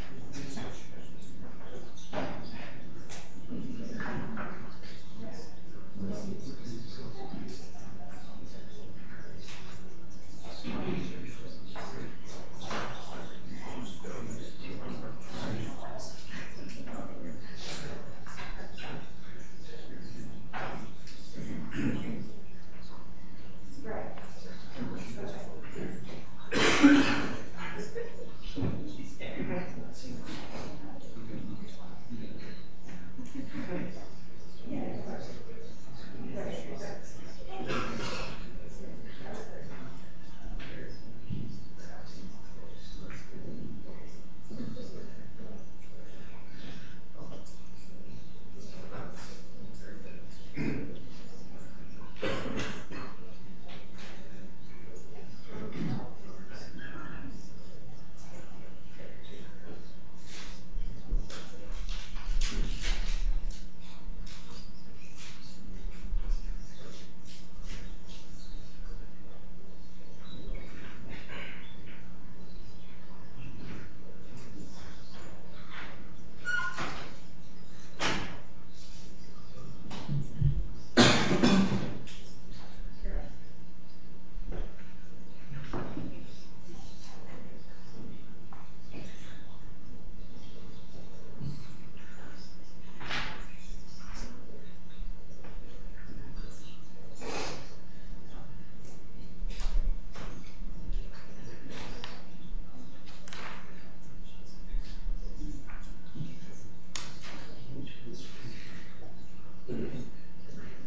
and and V and V and V and V and V and V and V and V and V and G and G and G and G and G and G and G and G and G and G and G and G and G and G and G and G and G and G G G G G Sw Sw Sw Sw Sw Sw Sw Sw Sw Codeus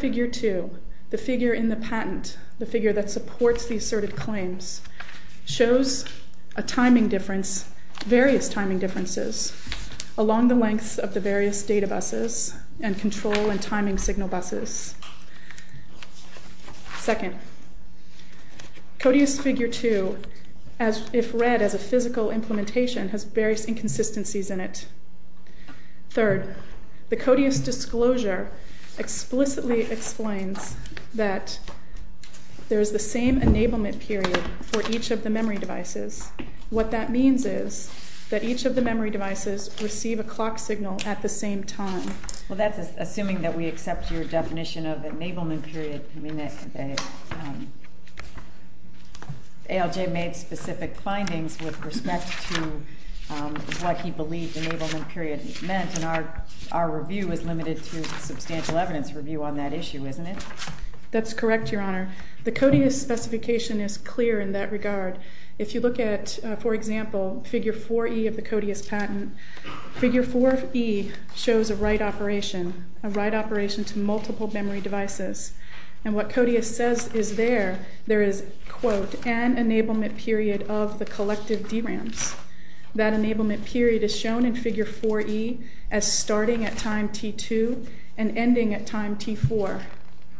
figure 2, the figure in the patent, the figure that supports the asserted claims, shows a timing difference, various timing differences, along the lengths of the various data buses and control and timing signal buses. Second, Codeus figure 2, if read as a physical implementation, has various inconsistencies in it. Third, the Codeus disclosure explicitly explains that there is the same enablement period for each of the memory devices. What that means is that each of the memory devices receive a clock signal at the same time. Well, that's assuming that we accept your definition of enablement period. ALJ made specific findings with respect to what he believed enablement period meant, and our review is limited to substantial evidence review on that issue, isn't it? That's correct, Your Honor. The Codeus specification is clear in that regard. If you look at, for example, figure 4E of the Codeus patent, figure 4E shows a write operation, a write operation to multiple memory devices. And what Codeus says is there, there is, quote, an enablement period of the collective DRAMs. That enablement period is shown in figure 4E as starting at time T2 and ending at time T4.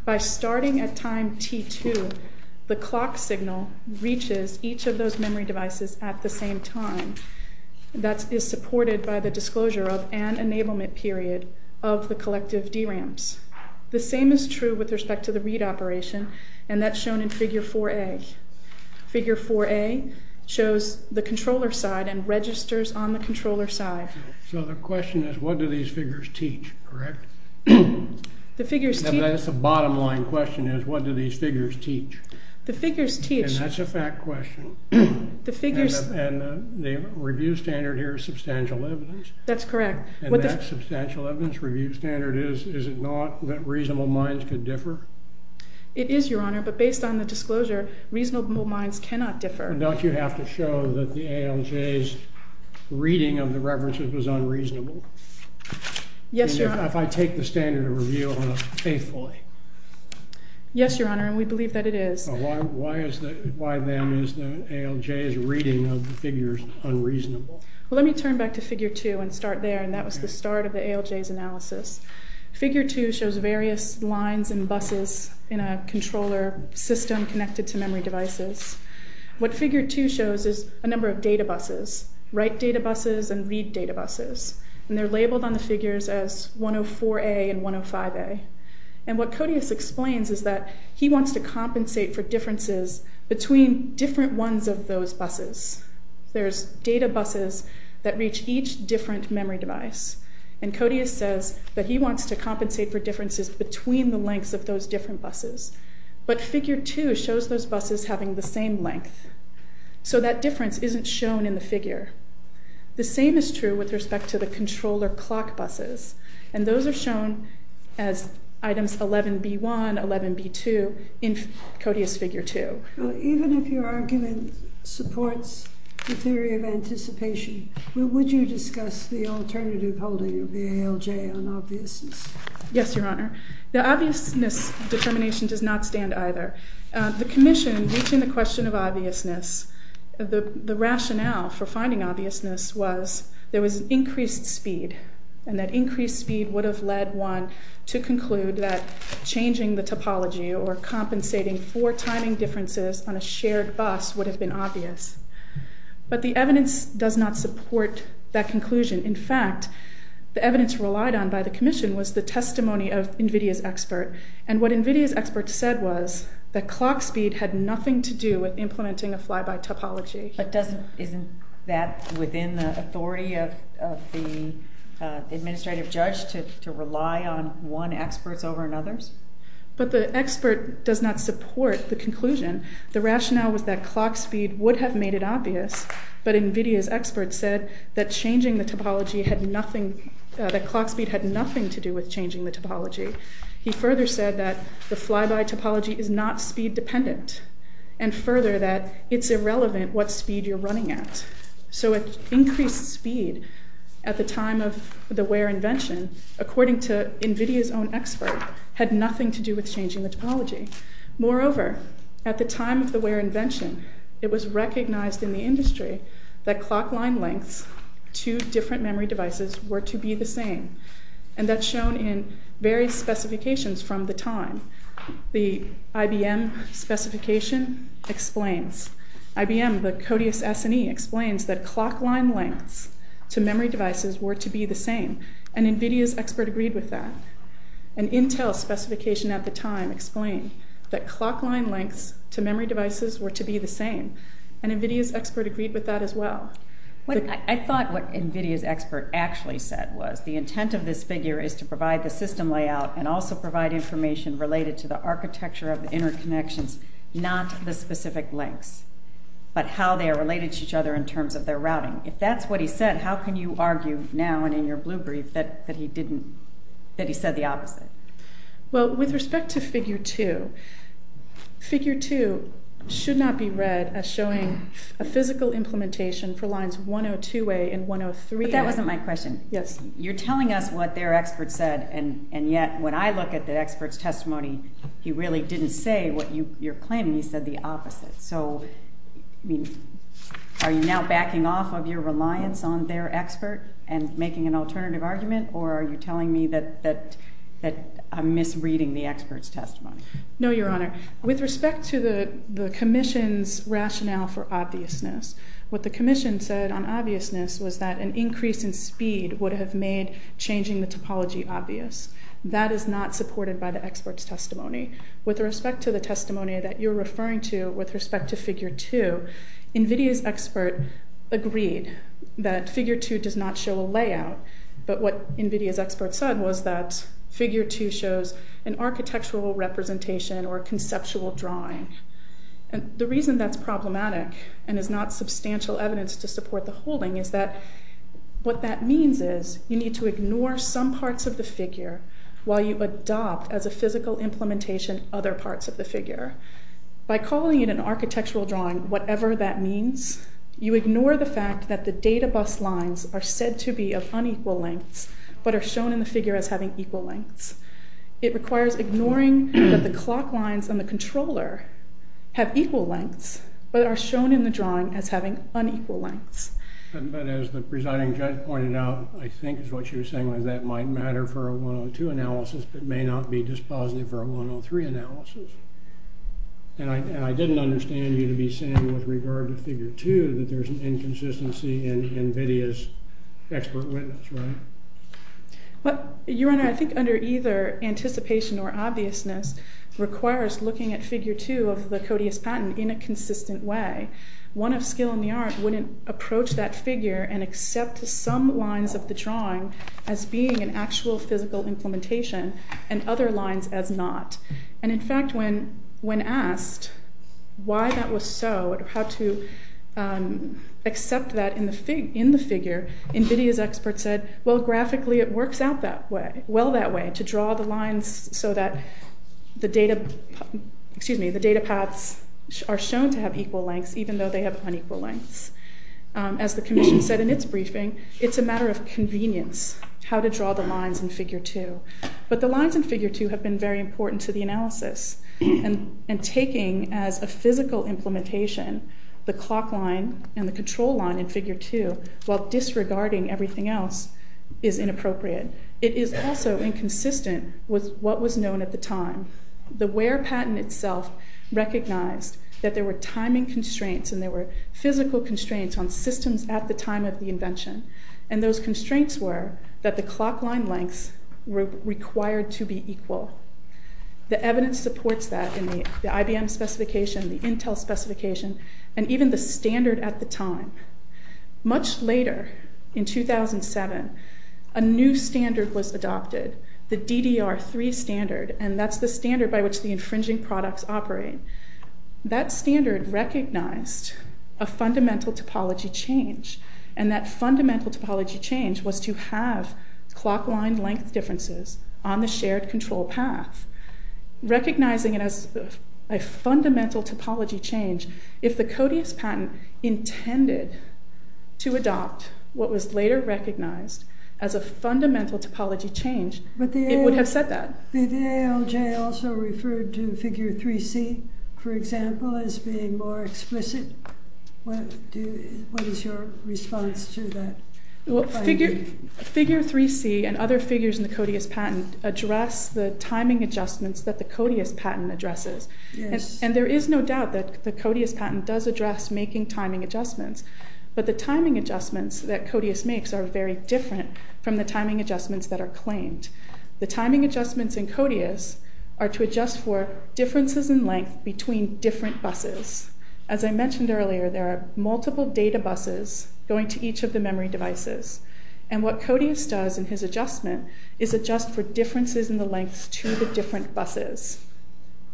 By starting at time T2, the clock signal reaches each of those memory devices at the same time. That is supported by the disclosure of an enablement period of the collective DRAMs. The same is true with respect to the read operation, and that's shown in figure 4A. Figure 4A shows the controller side and registers on the controller side. So the question is, what do these figures teach, correct? The figures teach- That's the bottom line question is, what do these figures teach? The figures teach- And that's a fact question. The figures- And the review standard here is substantial evidence. That's correct. And that substantial evidence review standard is, is it not that reasonable minds could differ? It is, Your Honor, but based on the disclosure, reasonable minds cannot differ. Don't you have to show that the ALJ's reading of the references was unreasonable? Yes, Your Honor. If I take the standard of review faithfully. Yes, Your Honor, and we believe that it is. Why is the- why then is the ALJ's reading of the figures unreasonable? Well, let me turn back to figure 2 and start there, and that was the start of the ALJ's analysis. Figure 2 shows various lines and buses in a controller system connected to memory devices. What figure 2 shows is a number of data buses, write data buses and read data buses. And they're labeled on the figures as 104A and 105A. And what Codius explains is that he wants to compensate for differences between different ones of those buses. There's data buses that reach each different memory device. And Codius says that he wants to compensate for differences between the lengths of those different buses. But figure 2 shows those buses having the same length. So that difference isn't shown in the figure. The same is true with respect to the controller clock buses. And those are shown as items 11B1, 11B2 in Codius figure 2. Even if your argument supports the theory of anticipation, would you discuss the alternative holding of the ALJ on obviousness? Yes, Your Honor. The obviousness determination does not stand either. The commission, reaching the question of obviousness, the rationale for finding obviousness was there was increased speed. And that increased speed would have led one to conclude that changing the topology or compensating for timing differences on a shared bus would have been obvious. But the evidence does not support that conclusion. In fact, the evidence relied on by the commission was the testimony of NVIDIA's expert. And what NVIDIA's expert said was that clock speed had nothing to do with implementing a fly-by topology. But isn't that within the authority of the administrative judge to rely on one expert's over another's? But the expert does not support the conclusion. The rationale was that clock speed would have made it obvious. But NVIDIA's expert said that changing the topology had nothing, that clock speed had nothing to do with changing the topology. He further said that the fly-by topology is not speed dependent and further that it's irrelevant what speed you're running at. So increased speed at the time of the Ware invention, according to NVIDIA's own expert, had nothing to do with changing the topology. Moreover, at the time of the Ware invention, it was recognized in the industry that clock line lengths to different memory devices were to be the same. And that's shown in various specifications from the time. The IBM specification explains. IBM, the Codeus S&E, explains that clock line lengths to memory devices were to be the same. And NVIDIA's expert agreed with that. An Intel specification at the time explained that clock line lengths to memory devices were to be the same. And NVIDIA's expert agreed with that as well. I thought what NVIDIA's expert actually said was the intent of this figure is to provide the system layout and also provide information related to the architecture of the interconnections, not the specific lengths, but how they are related to each other in terms of their routing. If that's what he said, how can you argue now and in your blue brief that he said the opposite? Well, with respect to figure 2, figure 2 should not be read as showing a physical implementation for lines 102A and 103A. But that wasn't my question. Yes. You're telling us what their expert said, and yet when I look at the expert's testimony, he really didn't say what you're claiming. He said the opposite. So, I mean, are you now backing off of your reliance on their expert and making an alternative argument? Or are you telling me that I'm misreading the expert's testimony? No, Your Honor. With respect to the commission's rationale for obviousness, what the commission said on obviousness was that an increase in speed would have made changing the topology obvious. That is not supported by the expert's testimony. With respect to the testimony that you're referring to with respect to figure 2, NVIDIA's expert agreed that figure 2 does not show a layout. But what NVIDIA's expert said was that figure 2 shows an architectural representation or conceptual drawing. And the reason that's problematic and is not substantial evidence to support the holding is that what that means is you need to ignore some parts of the figure while you adopt as a physical implementation other parts of the figure. By calling it an architectural drawing, whatever that means, you ignore the fact that the data bus lines are said to be of unequal lengths but are shown in the figure as having equal lengths. It requires ignoring that the clock lines on the controller have equal lengths but are shown in the drawing as having unequal lengths. But as the presiding judge pointed out, I think it's what she was saying, that that might matter for a 102 analysis but may not be dispositive for a 103 analysis. And I didn't understand you to be saying with regard to figure 2 that there's an inconsistency in NVIDIA's expert witness, right? Your Honor, I think under either anticipation or obviousness requires looking at figure 2 of the Codeus patent in a consistent way. One of skill in the art wouldn't approach that figure and accept some lines of the drawing as being an actual physical implementation and other lines as not. And in fact, when asked why that was so or how to accept that in the figure, NVIDIA's expert said, well, graphically it works out that way, well that way, to draw the lines so that the data paths are shown to have equal lengths even though they have unequal lengths. As the Commission said in its briefing, it's a matter of convenience how to draw the lines in figure 2. But the lines in figure 2 have been very important to the analysis and taking as a physical implementation the clock line and the control line in figure 2 while disregarding everything else is inappropriate. It is also inconsistent with what was known at the time. The Ware patent itself recognized that there were timing constraints and there were physical constraints on systems at the time of the invention. And those constraints were that the clock line lengths were required to be equal. The evidence supports that in the IBM specification, the Intel specification, and even the standard at the time. Much later, in 2007, a new standard was adopted, the DDR3 standard, and that's the standard by which the infringing products operate. That standard recognized a fundamental topology change, and that fundamental topology change was to have clock line length differences on the shared control path, recognizing it as a fundamental topology change. If the CODIUS patent intended to adopt what was later recognized as a fundamental topology change, it would have said that. But the ALJ also referred to figure 3C, for example, as being more explicit. What is your response to that? Well, figure 3C and other figures in the CODIUS patent address the timing adjustments that the CODIUS patent addresses. And there is no doubt that the CODIUS patent does address making timing adjustments, but the timing adjustments that CODIUS makes are very different from the timing adjustments that are claimed. The timing adjustments in CODIUS are to adjust for differences in length between different buses. As I mentioned earlier, there are multiple data buses going to each of the memory devices, and what CODIUS does in his adjustment is adjust for differences in the lengths to the different buses.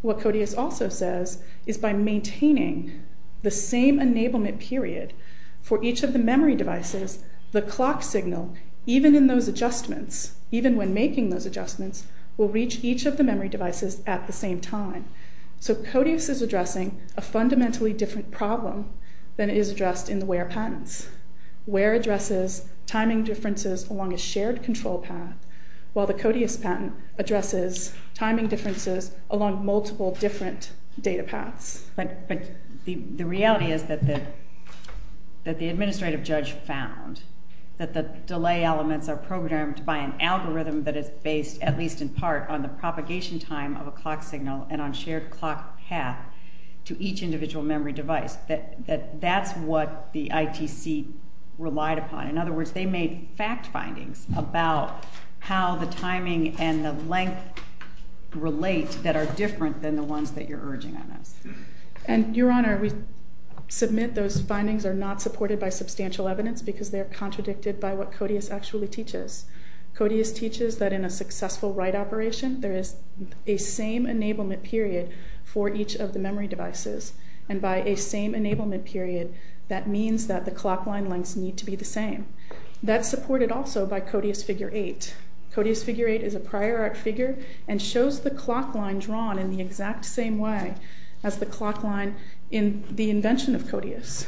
What CODIUS also says is by maintaining the same enablement period for each of the memory devices, the clock signal, even in those adjustments, even when making those adjustments, will reach each of the memory devices at the same time. So CODIUS is addressing a fundamentally different problem than it is addressed in the WARE patents. WARE addresses timing differences along a shared control path, while the CODIUS patent addresses timing differences along multiple different data paths. But the reality is that the administrative judge found that the delay elements are programmed by an algorithm that is based, at least in part, on the propagation time of a clock signal and on a shared clock path to each individual memory device. That's what the ITC relied upon. In other words, they made fact findings about how the timing and the length relate that are different than the ones that you're urging on us. And, Your Honor, we submit those findings are not supported by substantial evidence because they are contradicted by what CODIUS actually teaches. CODIUS teaches that in a successful write operation, there is a same enablement period for each of the memory devices, and by a same enablement period, that means that the clock line lengths need to be the same. That's supported also by CODIUS Figure 8. CODIUS Figure 8 is a prior art figure and shows the clock line drawn in the exact same way as the clock line in the invention of CODIUS.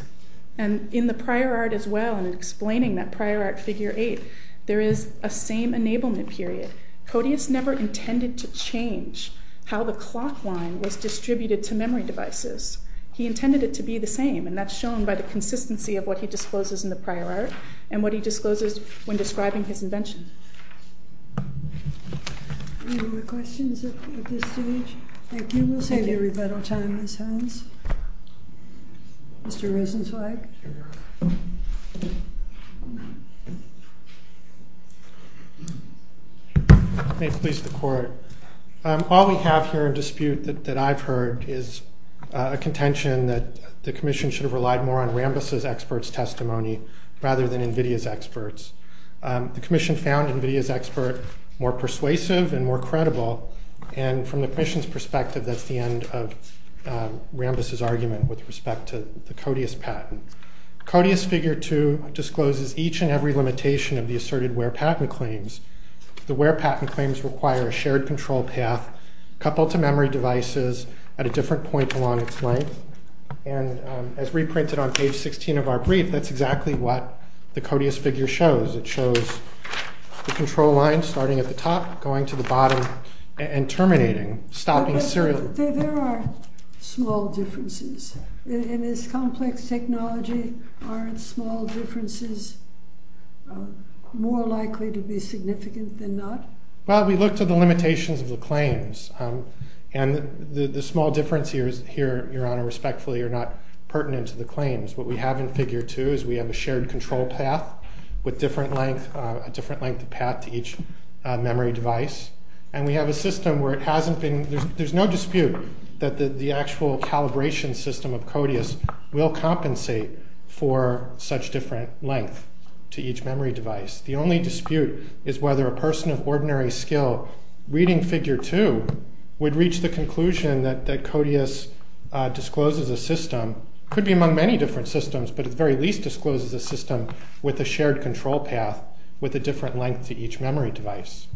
And in the prior art as well, in explaining that prior art Figure 8, there is a same enablement period. CODIUS never intended to change how the clock line was distributed to memory devices. He intended it to be the same, and that's shown by the consistency of what he discloses in the prior art and what he discloses when describing his invention. Any other questions at this stage? Thank you. We'll save everybody time. Raise hands. Mr. Rosenzweig. May it please the Court. All we have here in dispute that I've heard is a contention that the Commission should have relied more on Rambis' expert's testimony rather than NVIDIA's experts. The Commission found NVIDIA's expert more persuasive and more credible, and from the Commission's perspective, that's the end of Rambis' argument with respect to the CODIUS patent. CODIUS Figure 2 discloses each and every limitation of the asserted wear patent claims. The wear patent claims require a shared control path coupled to memory devices at a different point along its length, and as reprinted on page 16 of our brief, that's exactly what the CODIUS figure shows. It shows the control line starting at the top, going to the bottom, and terminating, stopping serially. There are small differences. In this complex technology, aren't small differences more likely to be significant than not? Well, we look to the limitations of the claims, and the small differences here, Your Honor, respectfully, are not pertinent to the claims. What we have in Figure 2 is we have a shared control path with a different length of path to each memory device, and we have a system where there's no dispute that the actual calibration system of CODIUS will compensate for such different length to each memory device. The only dispute is whether a person of ordinary skill reading Figure 2 would reach the conclusion that CODIUS discloses a system, could be among many different systems, but at the very least discloses a system with a shared control path with a different length to each memory device.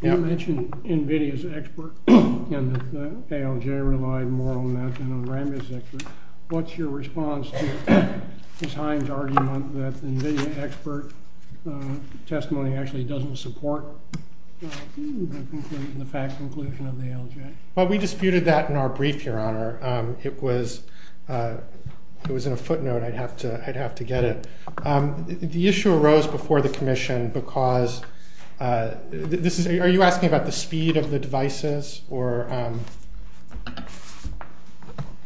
You mentioned NVIDIA's expert, and that the ALJ relied more on that than on Rambis' expert. What's your response to Ms. Hines' argument that the NVIDIA expert testimony actually doesn't support the fact conclusion of the ALJ? It was in a footnote. I'd have to get it. The issue arose before the commission because this is— are you asking about the speed of the devices or—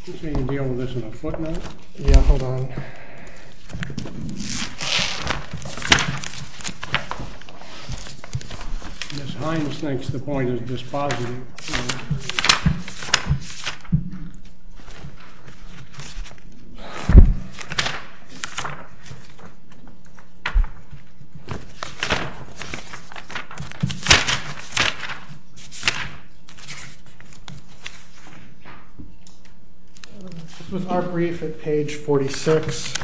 You're saying you're dealing with this in a footnote? Yeah, hold on. Okay. Ms. Hines thinks the point is dispositive. This was our brief at page 46.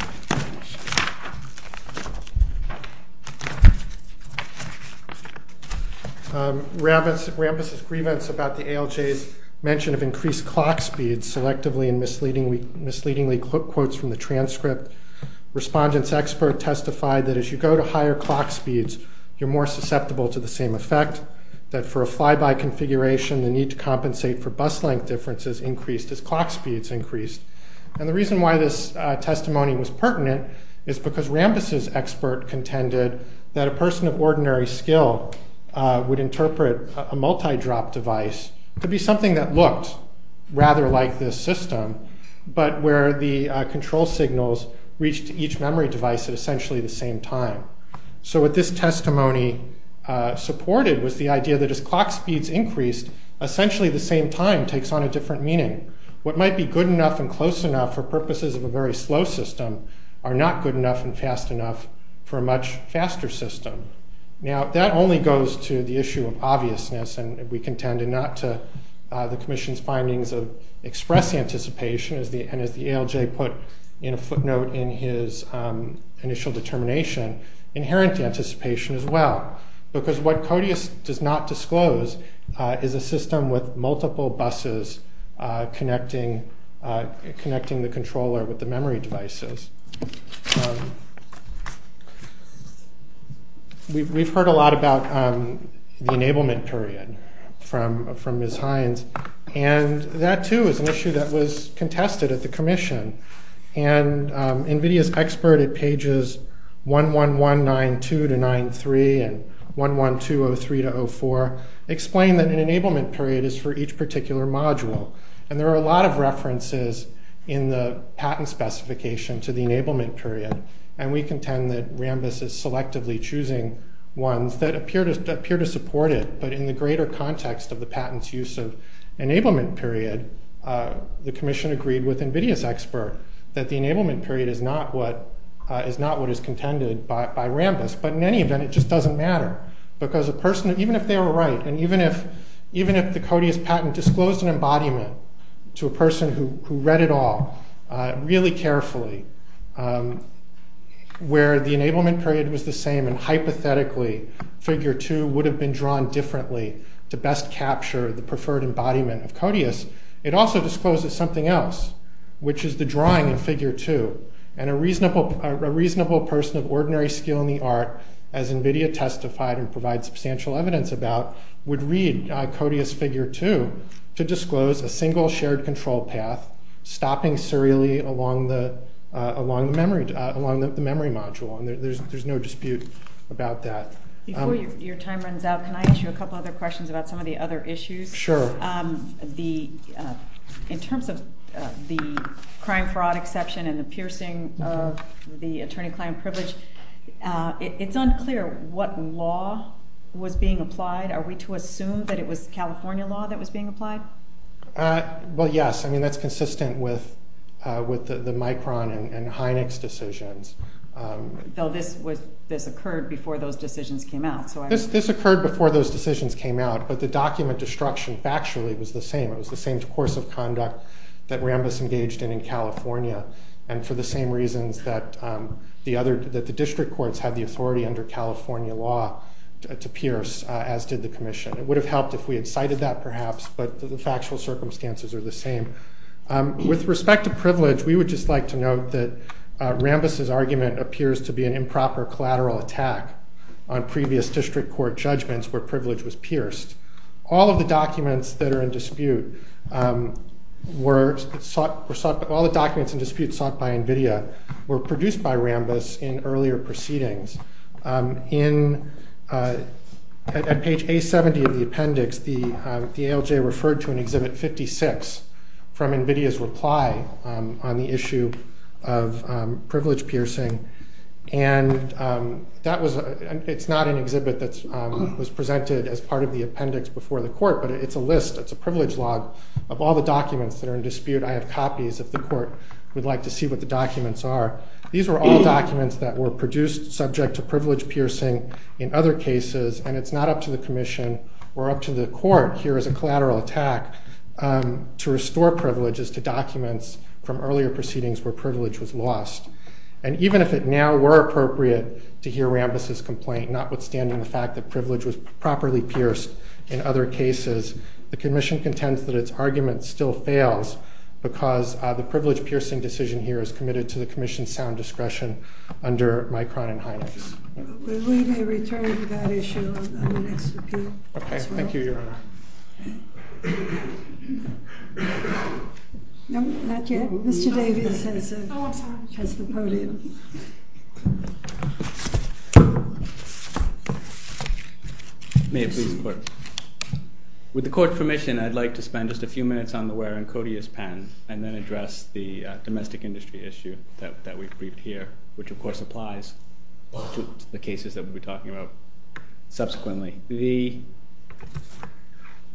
Rambis' grievance about the ALJ's mention of increased clock speeds selectively and misleadingly quotes from the transcript. Respondent's expert testified that as you go to higher clock speeds, you're more susceptible to the same effect, that for a fly-by configuration, the need to compensate for bus length differences increased as clock speeds increased. is because Rambis' expert contended that a person of ordinary skill would interpret a multi-drop device to be something that looked rather like this system, but where the control signals reached each memory device at essentially the same time. So what this testimony supported was the idea that as clock speeds increased, essentially the same time takes on a different meaning. What might be good enough and close enough for purposes of a very slow system are not good enough and fast enough for a much faster system. Now, that only goes to the issue of obviousness, and we contended not to the commission's findings of express anticipation, and as the ALJ put in a footnote in his initial determination, inherent anticipation as well, because what CODIUS does not disclose is a system with multiple buses connecting the controller with the memory devices. We've heard a lot about the enablement period from Ms. Hines, and that too is an issue that was contested at the commission, and NVIDIA's expert at pages 11192-93 and 11203-04 explained that an enablement period is for each particular module, and there are a lot of references in the patent specification to the enablement period, and we contend that Rambis is selectively choosing ones that appear to support it, but in the greater context of the patent's use of enablement period, the commission agreed with NVIDIA's expert that the enablement period is not what is contended by Rambis, but in any event, it just doesn't matter, because even if they were right, and even if the CODIUS patent disclosed an embodiment to a person who read it all really carefully, where the enablement period was the same and hypothetically figure two would have been drawn differently to best capture the preferred embodiment of CODIUS, it also discloses something else, which is the drawing in figure two, and a reasonable person of ordinary skill in the art, as NVIDIA testified and provides substantial evidence about, would read CODIUS figure two to disclose a single shared control path, stopping serially along the memory module, and there's no dispute about that. Before your time runs out, can I ask you a couple other questions about some of the other issues? Sure. In terms of the crime fraud exception and the piercing of the attorney-client privilege, it's unclear what law was being applied. Are we to assume that it was California law that was being applied? Well, yes. I mean, that's consistent with the Micron and Hynek's decisions. Though this occurred before those decisions came out. This occurred before those decisions came out, but the document destruction factually was the same. It was the same course of conduct that Rambis engaged in in California and for the same reasons that the district courts had the authority under California law to pierce, as did the commission. It would have helped if we had cited that perhaps, but the factual circumstances are the same. With respect to privilege, we would just like to note that Rambis' argument appears to be an improper collateral attack on previous district court judgments where privilege was pierced. All of the documents that are in dispute were sought by NVIDIA, were produced by Rambis in earlier proceedings. At page A70 of the appendix, the ALJ referred to an Exhibit 56 from NVIDIA's reply on the issue of privilege piercing, and it's not an exhibit that was presented as part of the appendix before the court, but it's a list, it's a privilege log of all the documents that are in dispute. I have copies if the court would like to see what the documents are. These were all documents that were produced subject to privilege piercing in other cases, and it's not up to the commission or up to the court here as a collateral attack to restore privileges to documents from earlier proceedings where privilege was lost. And even if it now were appropriate to hear Rambis' complaint, notwithstanding the fact that privilege was properly pierced in other cases, the commission contends that its argument still fails because the privilege-piercing decision here is committed to the commission's sound discretion under Micron and Hynex. We may return to that issue on the next appeal as well. Okay. Thank you, Your Honor. No, not yet. Mr. Davis has the podium. May it please the court. With the court's permission, I'd like to spend just a few minutes on the Ware and Codius patent and then address the domestic industry issue that we've briefed here, which, of course, applies to the cases that we'll be talking about subsequently. The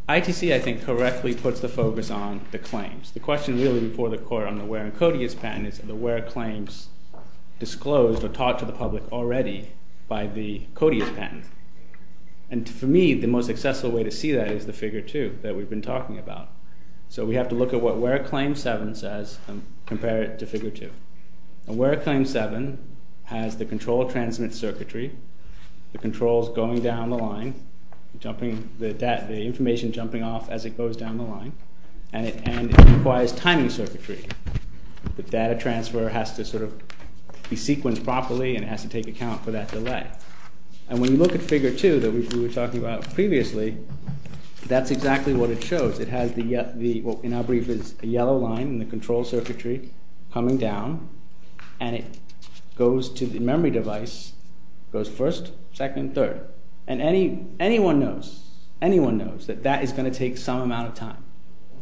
ITC, I think, correctly puts the focus on the claims. The question really before the court on the Ware and Codius patent is, are the Ware claims disclosed or taught to the public already by the Codius patent? And for me, the most accessible way to see that is the Figure 2 that we've been talking about. So we have to look at what Ware Claim 7 says and compare it to Figure 2. And Ware Claim 7 has the control transmit circuitry, the controls going down the line, the information jumping off as it goes down the line, and it requires timing circuitry. The data transfer has to sort of be sequenced properly and has to take account for that delay. And when you look at Figure 2 that we were talking about previously, that's exactly what it shows. It has what in our brief is a yellow line in the control circuitry coming down, and it goes to the memory device, goes first, second, third. And anyone knows that that is going to take some amount of time.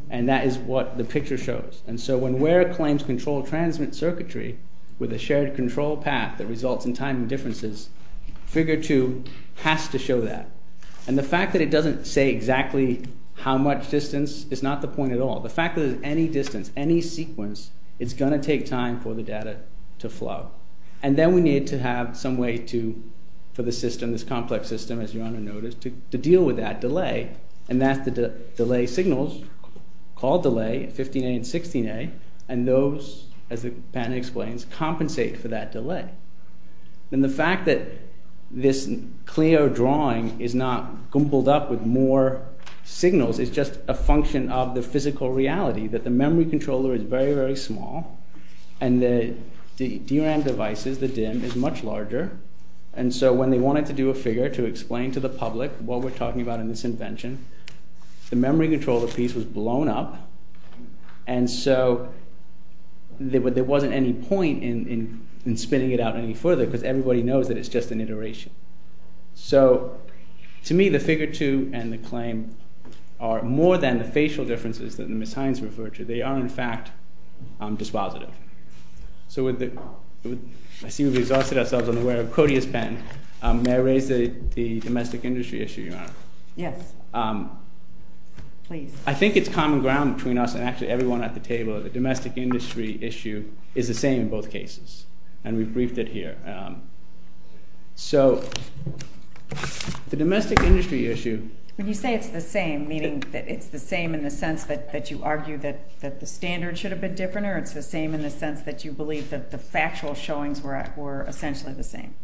And that is what the picture shows. And so when Ware claims control transmit circuitry with a shared control path that results in timing differences, Figure 2 has to show that. And the fact that it doesn't say exactly how much distance is not the point at all. The fact that at any distance, any sequence, it's going to take time for the data to flow. And then we need to have some way for the system, this complex system, as you ought to notice, to deal with that delay, and that's the delay signals called delay, 15A and 16A, and those, as the patent explains, compensate for that delay. And the fact that this Clio drawing is not gumbled up with more signals is just a function of the physical reality that the memory controller is very, very small and the DRAM devices, the DIMM, is much larger. And so when they wanted to do a figure to explain to the public what we're talking about in this invention, the memory controller piece was blown up. And so there wasn't any point in spinning it out any further because everybody knows that it's just an iteration. So to me, the Figure 2 and the claim are more than the facial differences that Ms. Hines referred to. They are, in fact, dispositive. So I see we've exhausted ourselves on the wear of a courteous pen. May I raise the domestic industry issue, Your Honor? Yes, please. I think it's common ground between us and actually everyone at the table that the domestic industry issue is the same in both cases, and we've briefed it here. So the domestic industry issue... When you say it's the same, meaning that it's the same in the sense that you argue that the standard should have been different, or it's the same in the sense that you believe that the factual showings were essentially the same?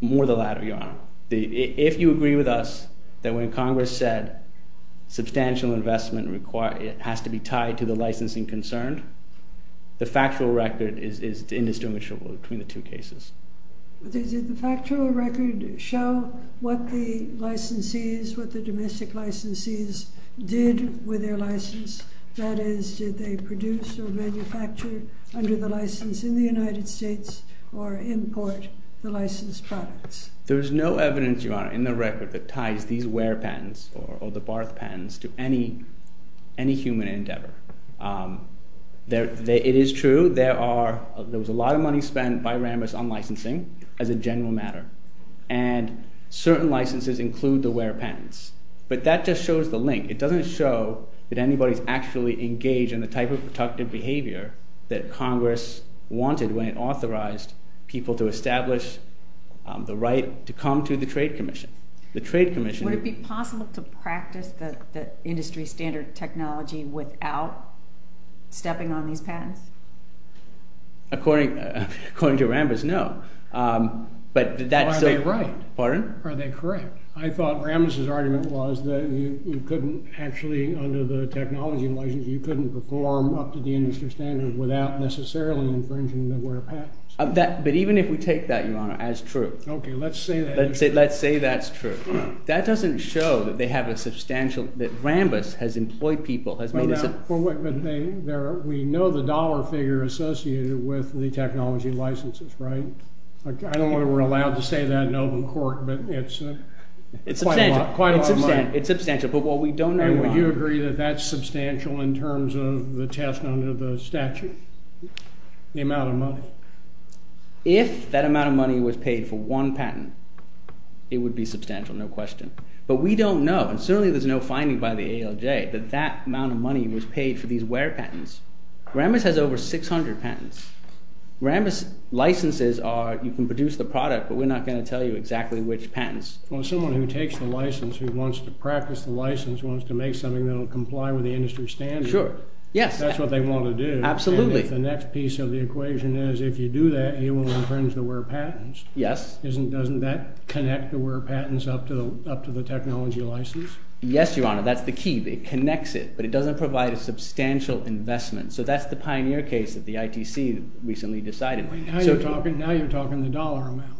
More the latter, Your Honor. If you agree with us that when Congress said substantial investment has to be tied to the licensing concerned, the factual record is indistinguishable between the two cases. Did the factual record show what the licensees, what the domestic licensees did with their license? That is, did they produce or manufacture under the license in the United States or import the licensed products? There is no evidence, Your Honor, in the record that ties these Ware patents or the Barth patents to any human endeavor. It is true. There was a lot of money spent by Rambis on licensing as a general matter, and certain licenses include the Ware patents, but that just shows the link. It doesn't show that anybody's actually engaged in the type of productive behavior that Congress wanted when it authorized people to establish the right to come to the Trade Commission. Would it be possible to practice the industry standard technology without stepping on these patents? According to Rambis, no. Are they right? Pardon? Are they correct? I thought Rambis' argument was that you couldn't actually, under the technology license, you couldn't perform up to the industry standard without necessarily infringing the Ware patents. But even if we take that, Your Honor, as true. Okay, let's say that. Let's say that's true. That doesn't show that Rambis has employed people. But we know the dollar figure associated with the technology licenses, right? I don't know whether we're allowed to say that in open court, but it's quite a lot. It's substantial, but what we don't know. And would you agree that that's substantial in terms of the test under the statute, The amount of money. If that amount of money was paid for one patent, it would be substantial, no question. But we don't know, and certainly there's no finding by the ALJ that that amount of money was paid for these Ware patents. Rambis has over 600 patents. Rambis licenses are, you can produce the product, but we're not going to tell you exactly which patents. Well, someone who takes the license, who wants to practice the license, wants to make something that will comply with the industry standard, that's what they want to do, and if the next piece of the equation is if you do that, you will infringe the Ware patents. Doesn't that connect the Ware patents up to the technology license? Yes, Your Honor, that's the key. It connects it, but it doesn't provide a substantial investment. So that's the pioneer case that the ITC recently decided. Now you're talking the dollar amount.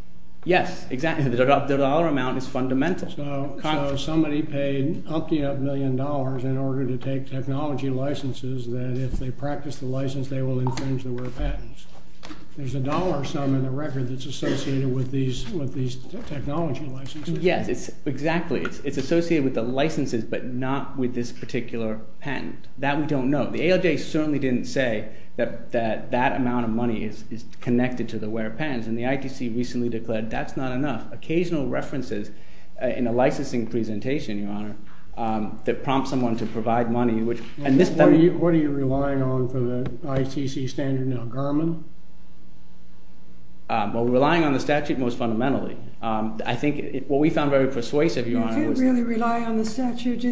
Yes, exactly. The dollar amount is fundamental. So somebody paid a hunk of a million dollars in order to take technology licenses that if they practice the license they will infringe the Ware patents. There's a dollar sum in the record that's associated with these technology licenses. Yes, exactly. It's associated with the licenses, but not with this particular patent. That we don't know. The ALJ certainly didn't say that that amount of money is connected to the Ware patents, and the ITC recently declared that's not enough. There are occasional references in a licensing presentation, Your Honor, that prompt someone to provide money. What are you relying on for the ITC standard now, Garmin? We're relying on the statute most fundamentally. What we found very persuasive, Your Honor, was that... You didn't really rely on the statute.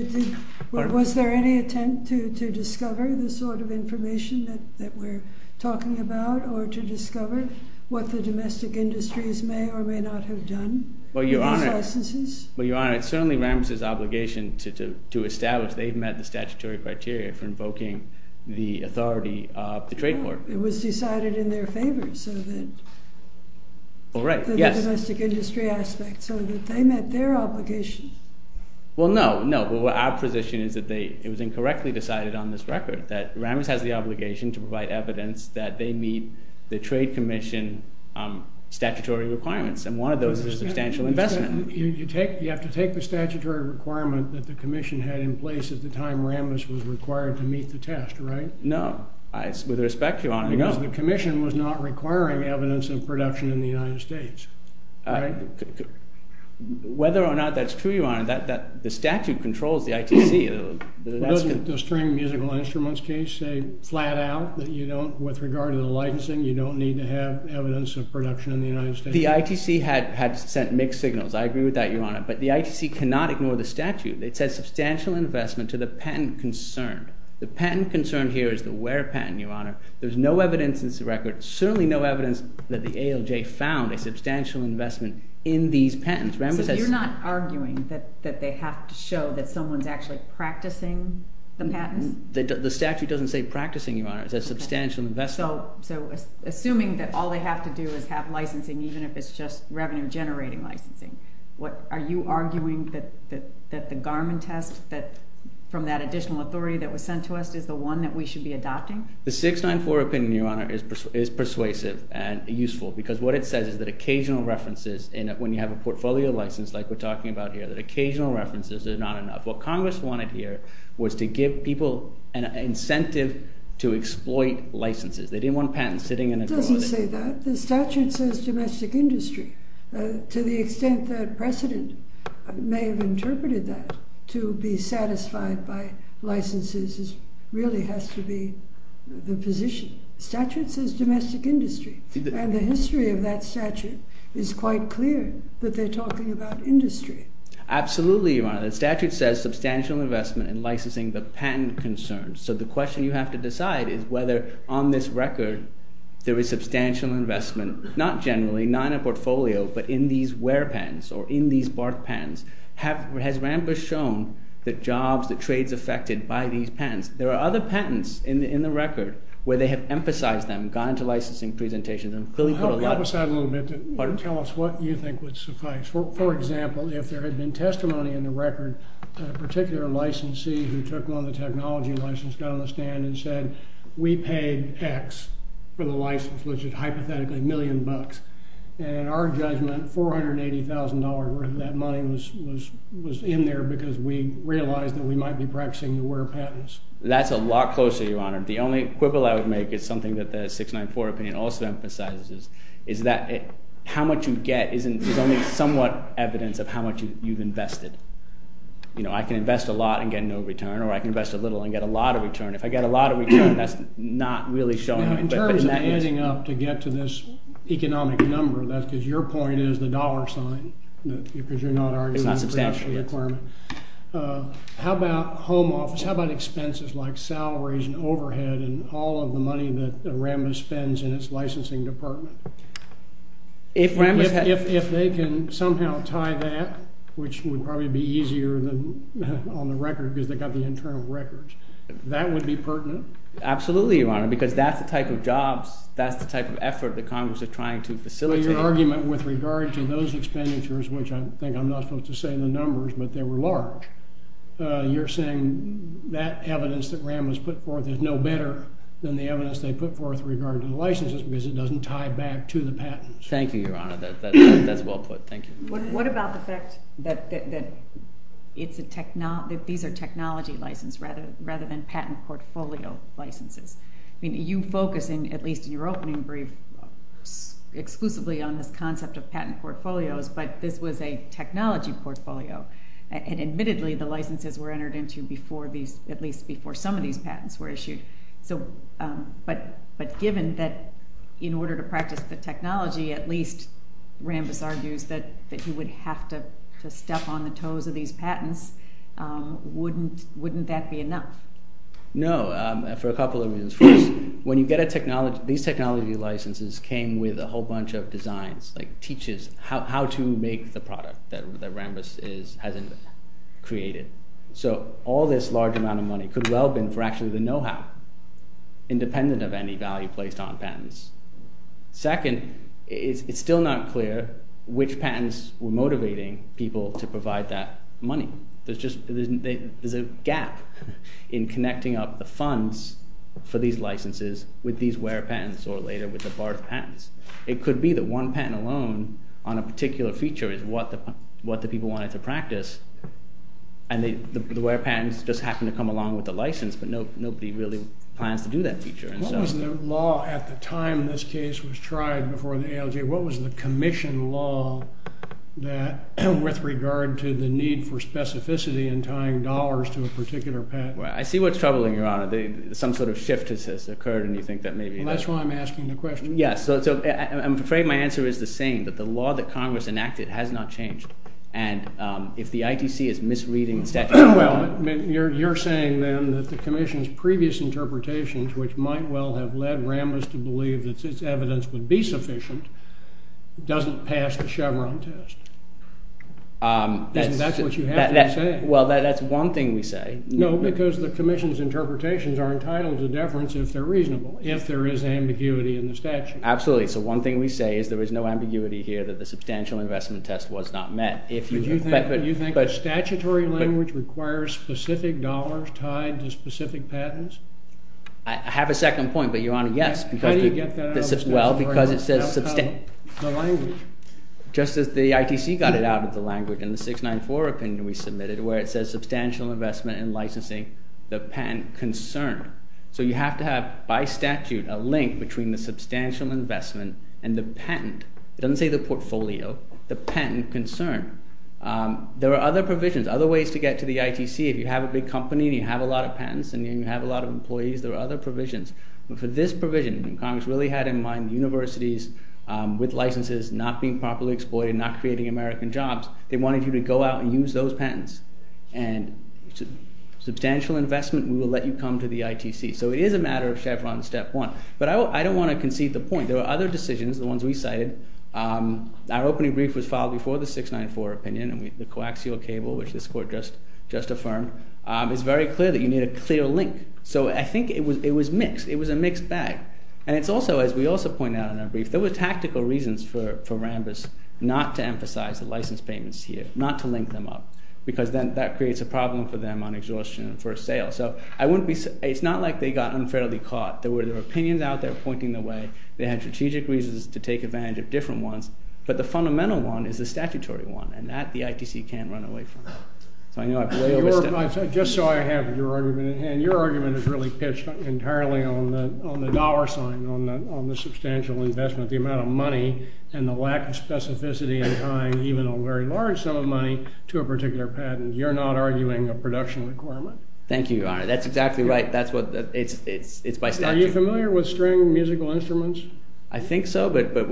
Was there any attempt to discover the sort of information that we're talking about or to discover what the domestic industries may or may not have done with these licenses? Well, Your Honor, it's certainly Rammus' obligation to establish they've met the statutory criteria for invoking the authority of the trade court. It was decided in their favor, so that... Oh, right. Yes. The domestic industry aspect, so that they met their obligation. Well, no, no. But our position is that it was incorrectly decided on this record, that Rammus has the obligation to provide evidence that they meet the trade commission statutory requirements, and one of those is substantial investment. You have to take the statutory requirement that the commission had in place at the time Rammus was required to meet the test, right? No. With respect, Your Honor, no. Because the commission was not requiring evidence of production in the United States, right? Whether or not that's true, Your Honor, the statute controls the ITC. Doesn't the string musical instruments case say flat out that you don't, with regard to the licensing, you don't need to have evidence of production in the United States? The ITC had sent mixed signals. I agree with that, Your Honor. But the ITC cannot ignore the statute. It says substantial investment to the patent concerned. The patent concerned here is the Ware patent, Your Honor. There's no evidence in this record, certainly no evidence that the ALJ found a substantial investment in these patents. So you're not arguing that they have to show that someone's actually practicing the patents? The statute doesn't say practicing, Your Honor. It says substantial investment. So assuming that all they have to do is have licensing, even if it's just revenue-generating licensing, are you arguing that the Garmin test from that additional authority that was sent to us is the one that we should be adopting? The 694 opinion, Your Honor, is persuasive and useful because what it says is that occasional references, when you have a portfolio license like we're talking about here, that occasional references are not enough. What Congress wanted here was to give people an incentive to exploit licenses. They didn't want patents sitting in a drawer. It doesn't say that. The statute says domestic industry. To the extent that precedent may have interpreted that, to be satisfied by licenses really has to be the position. The statute says domestic industry, and the history of that statute is quite clear that they're talking about industry. Absolutely, Your Honor. The statute says substantial investment in licensing. The patent concerns. So the question you have to decide is whether on this record there is substantial investment, not generally, not in a portfolio, but in these wear patents or in these bark patents. Has Rambach shown the jobs, the trades affected by these patents? There are other patents in the record where they have emphasized them, gone into licensing presentations, and clearly put a lot of— Help us out a little bit. Tell us what you think would suffice. For example, if there had been testimony in the record, a particular licensee who took one of the technology licenses got on the stand and said, we paid X for the license, which is hypothetically a million bucks. And our judgment, $480,000 worth of that money was in there because we realized that we might be practicing the wear patents. That's a lot closer, Your Honor. The only quibble I would make is something that the 694 opinion also emphasizes, is that how much you get is only somewhat evidence of how much you've invested. I can invest a lot and get no return, or I can invest a little and get a lot of return. If I get a lot of return, that's not really showing. In terms of adding up to get to this economic number, that's because your point is the dollar sign, because you're not arguing the production requirement. It's not substantial. How about home office? How about expenses like salaries and overhead and all of the money that Arambus spends in its licensing department? If they can somehow tie that, which would probably be easier on the record because they've got the internal records, that would be pertinent? Absolutely, Your Honor, because that's the type of jobs, that's the type of effort that Congress is trying to facilitate. Your argument with regard to those expenditures, which I think I'm not supposed to say the numbers, but they were large, you're saying that evidence that Arambus put forth is no better than the evidence they put forth with regard to the licenses, because it doesn't tie back to the patents. Thank you, Your Honor. That's well put. Thank you. What about the fact that these are technology licenses rather than patent portfolio licenses? You focus, at least in your opening brief, exclusively on this concept of patent portfolios, but this was a technology portfolio, and admittedly the licenses were entered into at least before some of these patents were issued. But given that in order to practice the technology, at least Arambus argues that he would have to step on the toes of these patents, wouldn't that be enough? No, for a couple of reasons. First, when you get a technology, these technology licenses came with a whole bunch of designs, like teaches how to make the product that Arambus has created. So all this large amount of money could well have been for actually the know-how, independent of any value placed on patents. Second, it's still not clear which patents were motivating people to provide that money. There's a gap in connecting up the funds for these licenses with these where patents or later with the BART patents. It could be that one patent alone on a particular feature is what the people wanted to practice, and the where patents just happened to come along with the license, but nobody really plans to do that feature. What was the law at the time this case was tried before the ALJ? What was the commission law with regard to the need for specificity in tying dollars to a particular patent? I see what's troubling, Your Honor. Some sort of shift has occurred, and you think that maybe... That's why I'm asking the question. I'm afraid my answer is the same, that the law that Congress enacted has not changed, and if the ITC is misreading the statute... You're saying then that the commission's previous interpretations, which might well have led Arambus to believe that its evidence would be sufficient, doesn't pass the Chevron test. That's what you have to say. Well, that's one thing we say. No, because the commission's interpretations are entitled to deference if they're reasonable, if there is ambiguity in the statute. Absolutely. So one thing we say is there is no ambiguity here that the substantial investment test was not met. Do you think a statutory language requires specific dollars tied to specific patents? I have a second point, but, Your Honor, yes. How do you get that out of the statutory language? Just as the ITC got it out of the language in the 694 opinion we submitted where it says substantial investment in licensing the patent concerned. So you have to have, by statute, a link between the substantial investment and the patent. It doesn't say the portfolio. The patent concerned. There are other provisions, other ways to get to the ITC. If you have a big company and you have a lot of patents and you have a lot of employees, there are other provisions. But for this provision, Congress really had in mind universities with licenses not being properly exploited, not creating American jobs. They wanted you to go out and use those patents. Substantial investment, we will let you come to the ITC. So it is a matter of Chevron step one. But I don't want to concede the point. There are other decisions, the ones we cited. Our opening brief was filed before the 694 opinion. The coaxial cable, which this Court just affirmed, is very clear that you need a clear link. So I think it was mixed. It was a mixed bag. And it's also, as we also pointed out in our brief, there were tactical reasons for Rambis not to emphasize the license payments here, not to link them up, because then that creates a problem for them on exhaustion for a sale. So it's not like they got unfairly caught. There were opinions out there pointing the way. They had strategic reasons to take advantage of different ones. But the fundamental one is the statutory one, and that the ITC can't run away from. Just so I have your argument at hand, your argument is really pitched entirely on the dollar sign, on the substantial investment, the amount of money and the lack of specificity in time, or even a very large sum of money to a particular patent. You're not arguing a production requirement. Thank you, Your Honor. That's exactly right. It's by statute. Are you familiar with string musical instruments? I think so, but that's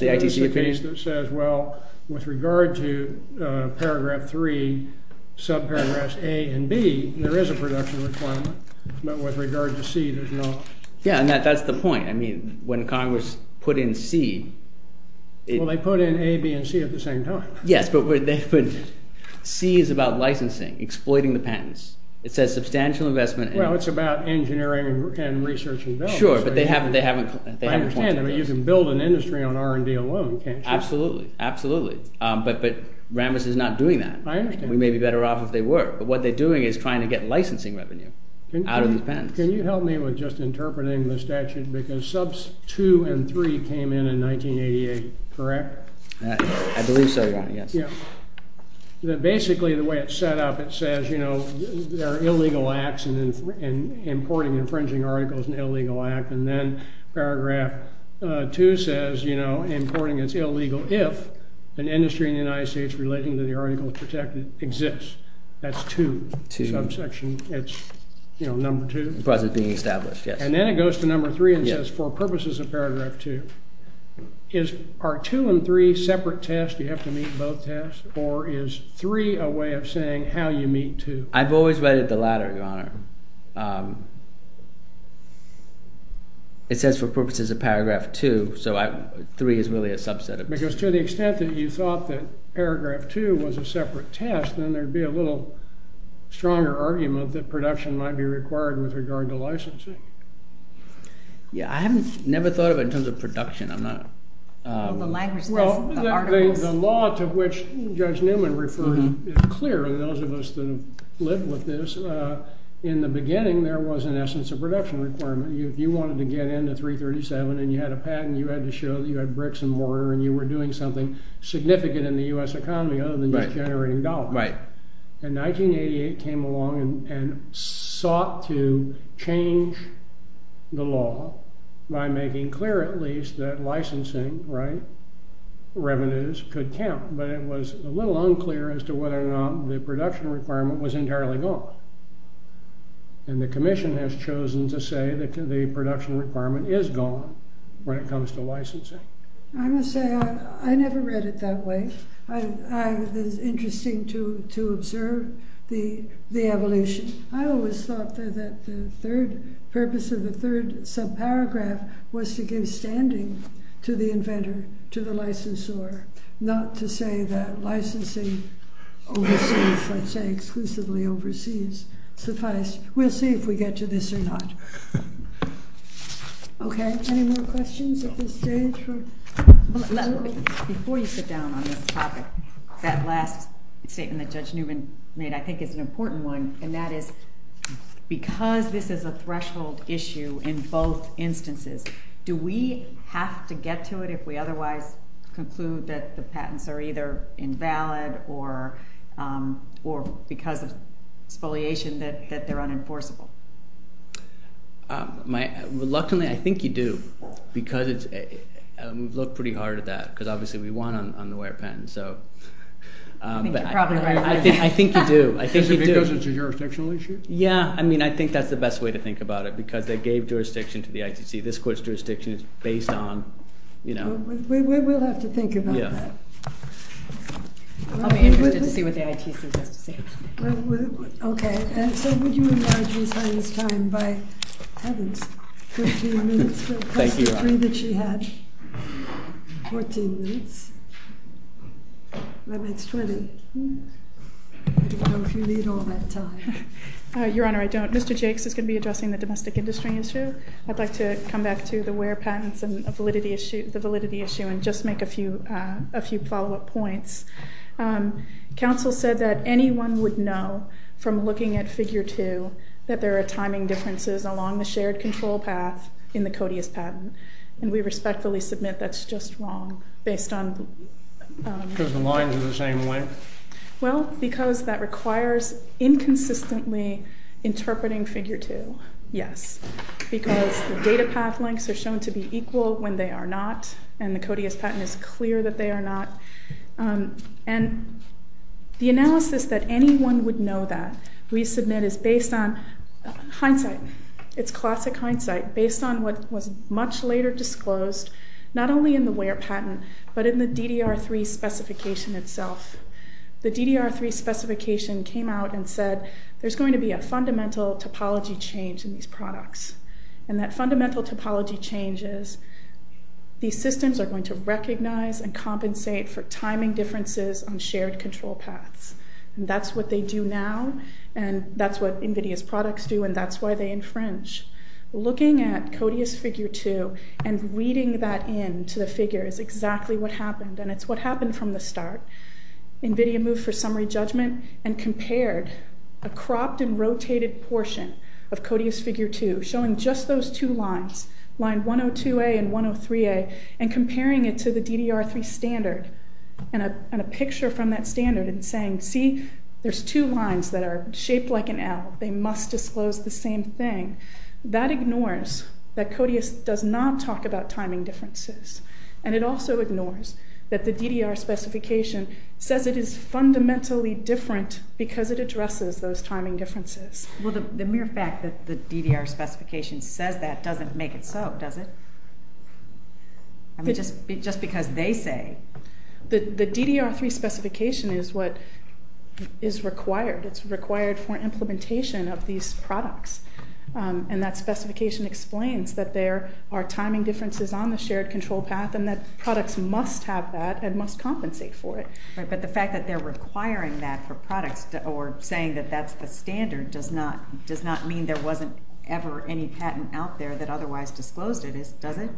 the ITC opinion. Well, with regard to paragraph 3, subparagraphs A and B, there is a production requirement. But with regard to C, there's not. Yeah, and that's the point. I mean, when Congress put in C... Well, they put in A, B, and C at the same time. Yes, but C is about licensing, exploiting the patents. It says substantial investment... Well, it's about engineering and research and development. Sure, but they haven't... I understand. I mean, you can build an industry on R&D alone, can't you? Absolutely, absolutely. But Rambis is not doing that. I understand. We may be better off if they were, but what they're doing is trying to get licensing revenue out of the patents. Can you help me with just interpreting the statute? Because subs 2 and 3 came in in 1988, correct? I believe so, Your Honor, yes. Yeah. Basically, the way it's set up, it says, you know, there are illegal acts and importing and infringing articles is an illegal act. And then paragraph 2 says, you know, importing is illegal if an industry in the United States relating to the articles protected exists. That's 2. 2. Subsection, it's, you know, number 2. As far as it's being established, yes. And then it goes to number 3 and says, for purposes of paragraph 2, are 2 and 3 separate tests? Do you have to meet both tests? Or is 3 a way of saying how you meet 2? I've always read it the latter, Your Honor. It says, for purposes of paragraph 2, so 3 is really a subset of 2. Because to the extent that you thought that paragraph 2 was a separate test, then there'd be a little stronger argument that production might be required with regard to licensing. Yeah, I haven't never thought of it in terms of production. I'm not a... Well, the language says articles. Well, the law to which Judge Newman referred is clear to those of us that have lived with this. In the beginning, there was, in essence, a production requirement. If you wanted to get into 337 and you had a patent, you had to show that you had bricks and mortar and you were doing something significant in the US economy other than generating dollars. Right. And 1988 came along and sought to change the law by making clear, at least, that licensing revenues could count. But it was a little unclear as to whether or not the production requirement was entirely gone. And the commission has chosen to say that the production requirement is gone when it comes to licensing. I must say, I never read it that way. It's interesting to observe the evolution. I always thought that the purpose of the third subparagraph was to give standing to the inventor, to the licensor, not to say that licensing overseas, let's say exclusively overseas, suffice. We'll see if we get to this or not. Okay, any more questions at this stage? Before you sit down on this topic, that last statement that Judge Newman made, I think, is an important one. And that is, because this is a threshold issue in both instances, do we have to get to it if we otherwise conclude that the patents are either invalid or because of spoliation that they're unenforceable? Reluctantly, I think you do. Because we've looked pretty hard at that. Because obviously we won on the Ware patent. I think you're probably right. I think you do. Is it because it's a jurisdictional issue? Yeah, I mean, I think that's the best way to think about it. Because they gave jurisdiction to the ITC. This court's jurisdiction is based on, you know. We will have to think about that. I'll be interested to see what the ITC has to say. OK. And so would you enlarge Ms. Hines' time by patents? 13 minutes, plus the three that she had. 14 minutes. That makes 20. I don't know if you need all that time. Your Honor, I don't. Mr. Jakes is going to be addressing the domestic industry issue. I'd like to come back to the Ware patents and the validity issue and just make a few follow-up points. Counsel said that anyone would know, from looking at Figure 2, that there are timing differences along the shared control path in the Codeus patent. And we respectfully submit that's just wrong. Because the lines are the same length? Well, because that requires inconsistently interpreting Figure 2, yes. Because the data path lengths are shown to be equal when they are not. And the Codeus patent is clear that they are not. And the analysis that anyone would know that we submit is based on hindsight. It's classic hindsight, based on what was much later disclosed, not only in the Ware patent, but in the DDR3 specification itself. The DDR3 specification came out and said there's going to be a fundamental topology change in these products. And that fundamental topology change is these systems are going to compensate for timing differences on shared control paths. And that's what they do now, and that's what NVIDIA's products do, and that's why they infringe. Looking at Codeus Figure 2 and reading that in to the figure is exactly what happened. And it's what happened from the start. NVIDIA moved for summary judgment and compared a cropped and rotated portion of Codeus Figure 2, showing just those two lines, line 102A and 103A, and comparing it to the DDR3 standard, and a picture from that standard and saying, see there's two lines that are shaped like an L. They must disclose the same thing. That ignores that Codeus does not talk about timing differences. And it also ignores that the DDR specification says it is fundamentally different because it addresses those timing differences. Well, the mere fact that the DDR specification says that doesn't make it so, does it? Just because they say. The DDR3 specification is what is required. It's required for implementation of these products. And that specification explains that there are timing differences on the shared control path and that products must have that and must compensate for it. But the fact that they're requiring that for products or saying that that's the standard does not mean there wasn't ever any patent out there that otherwise disclosed it, does it?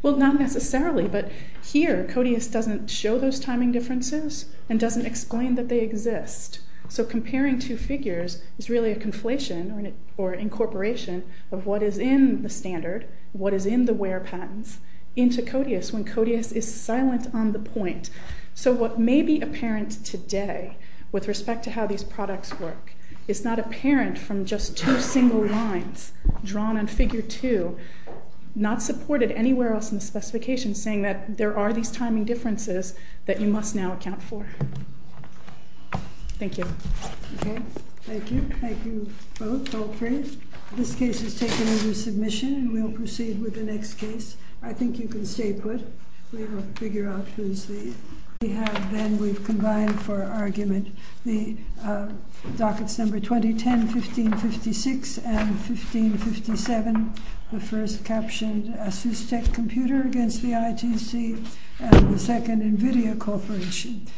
Well, not necessarily, but here Codeus doesn't show those timing differences and doesn't explain that they exist. So comparing two figures is really a conflation or incorporation of what is in the standard, what is in the where patents, into Codeus when Codeus is silent on the point. So what may be apparent today with respect to how these products work is not apparent from just two single lines drawn on figure two, not supported anywhere else in the specification saying that there are these timing differences that you must now account for. Thank you. Okay. Thank you. Thank you both. All three. This case is taken under submission and we'll proceed with the next case. I think you can stay put. We will figure out who's the. We have then, we've combined for argument, the dockets number 2010, 1556, and 1557, the first captioned ASUSTEC computer against the ITC and the second NVIDIA corporation.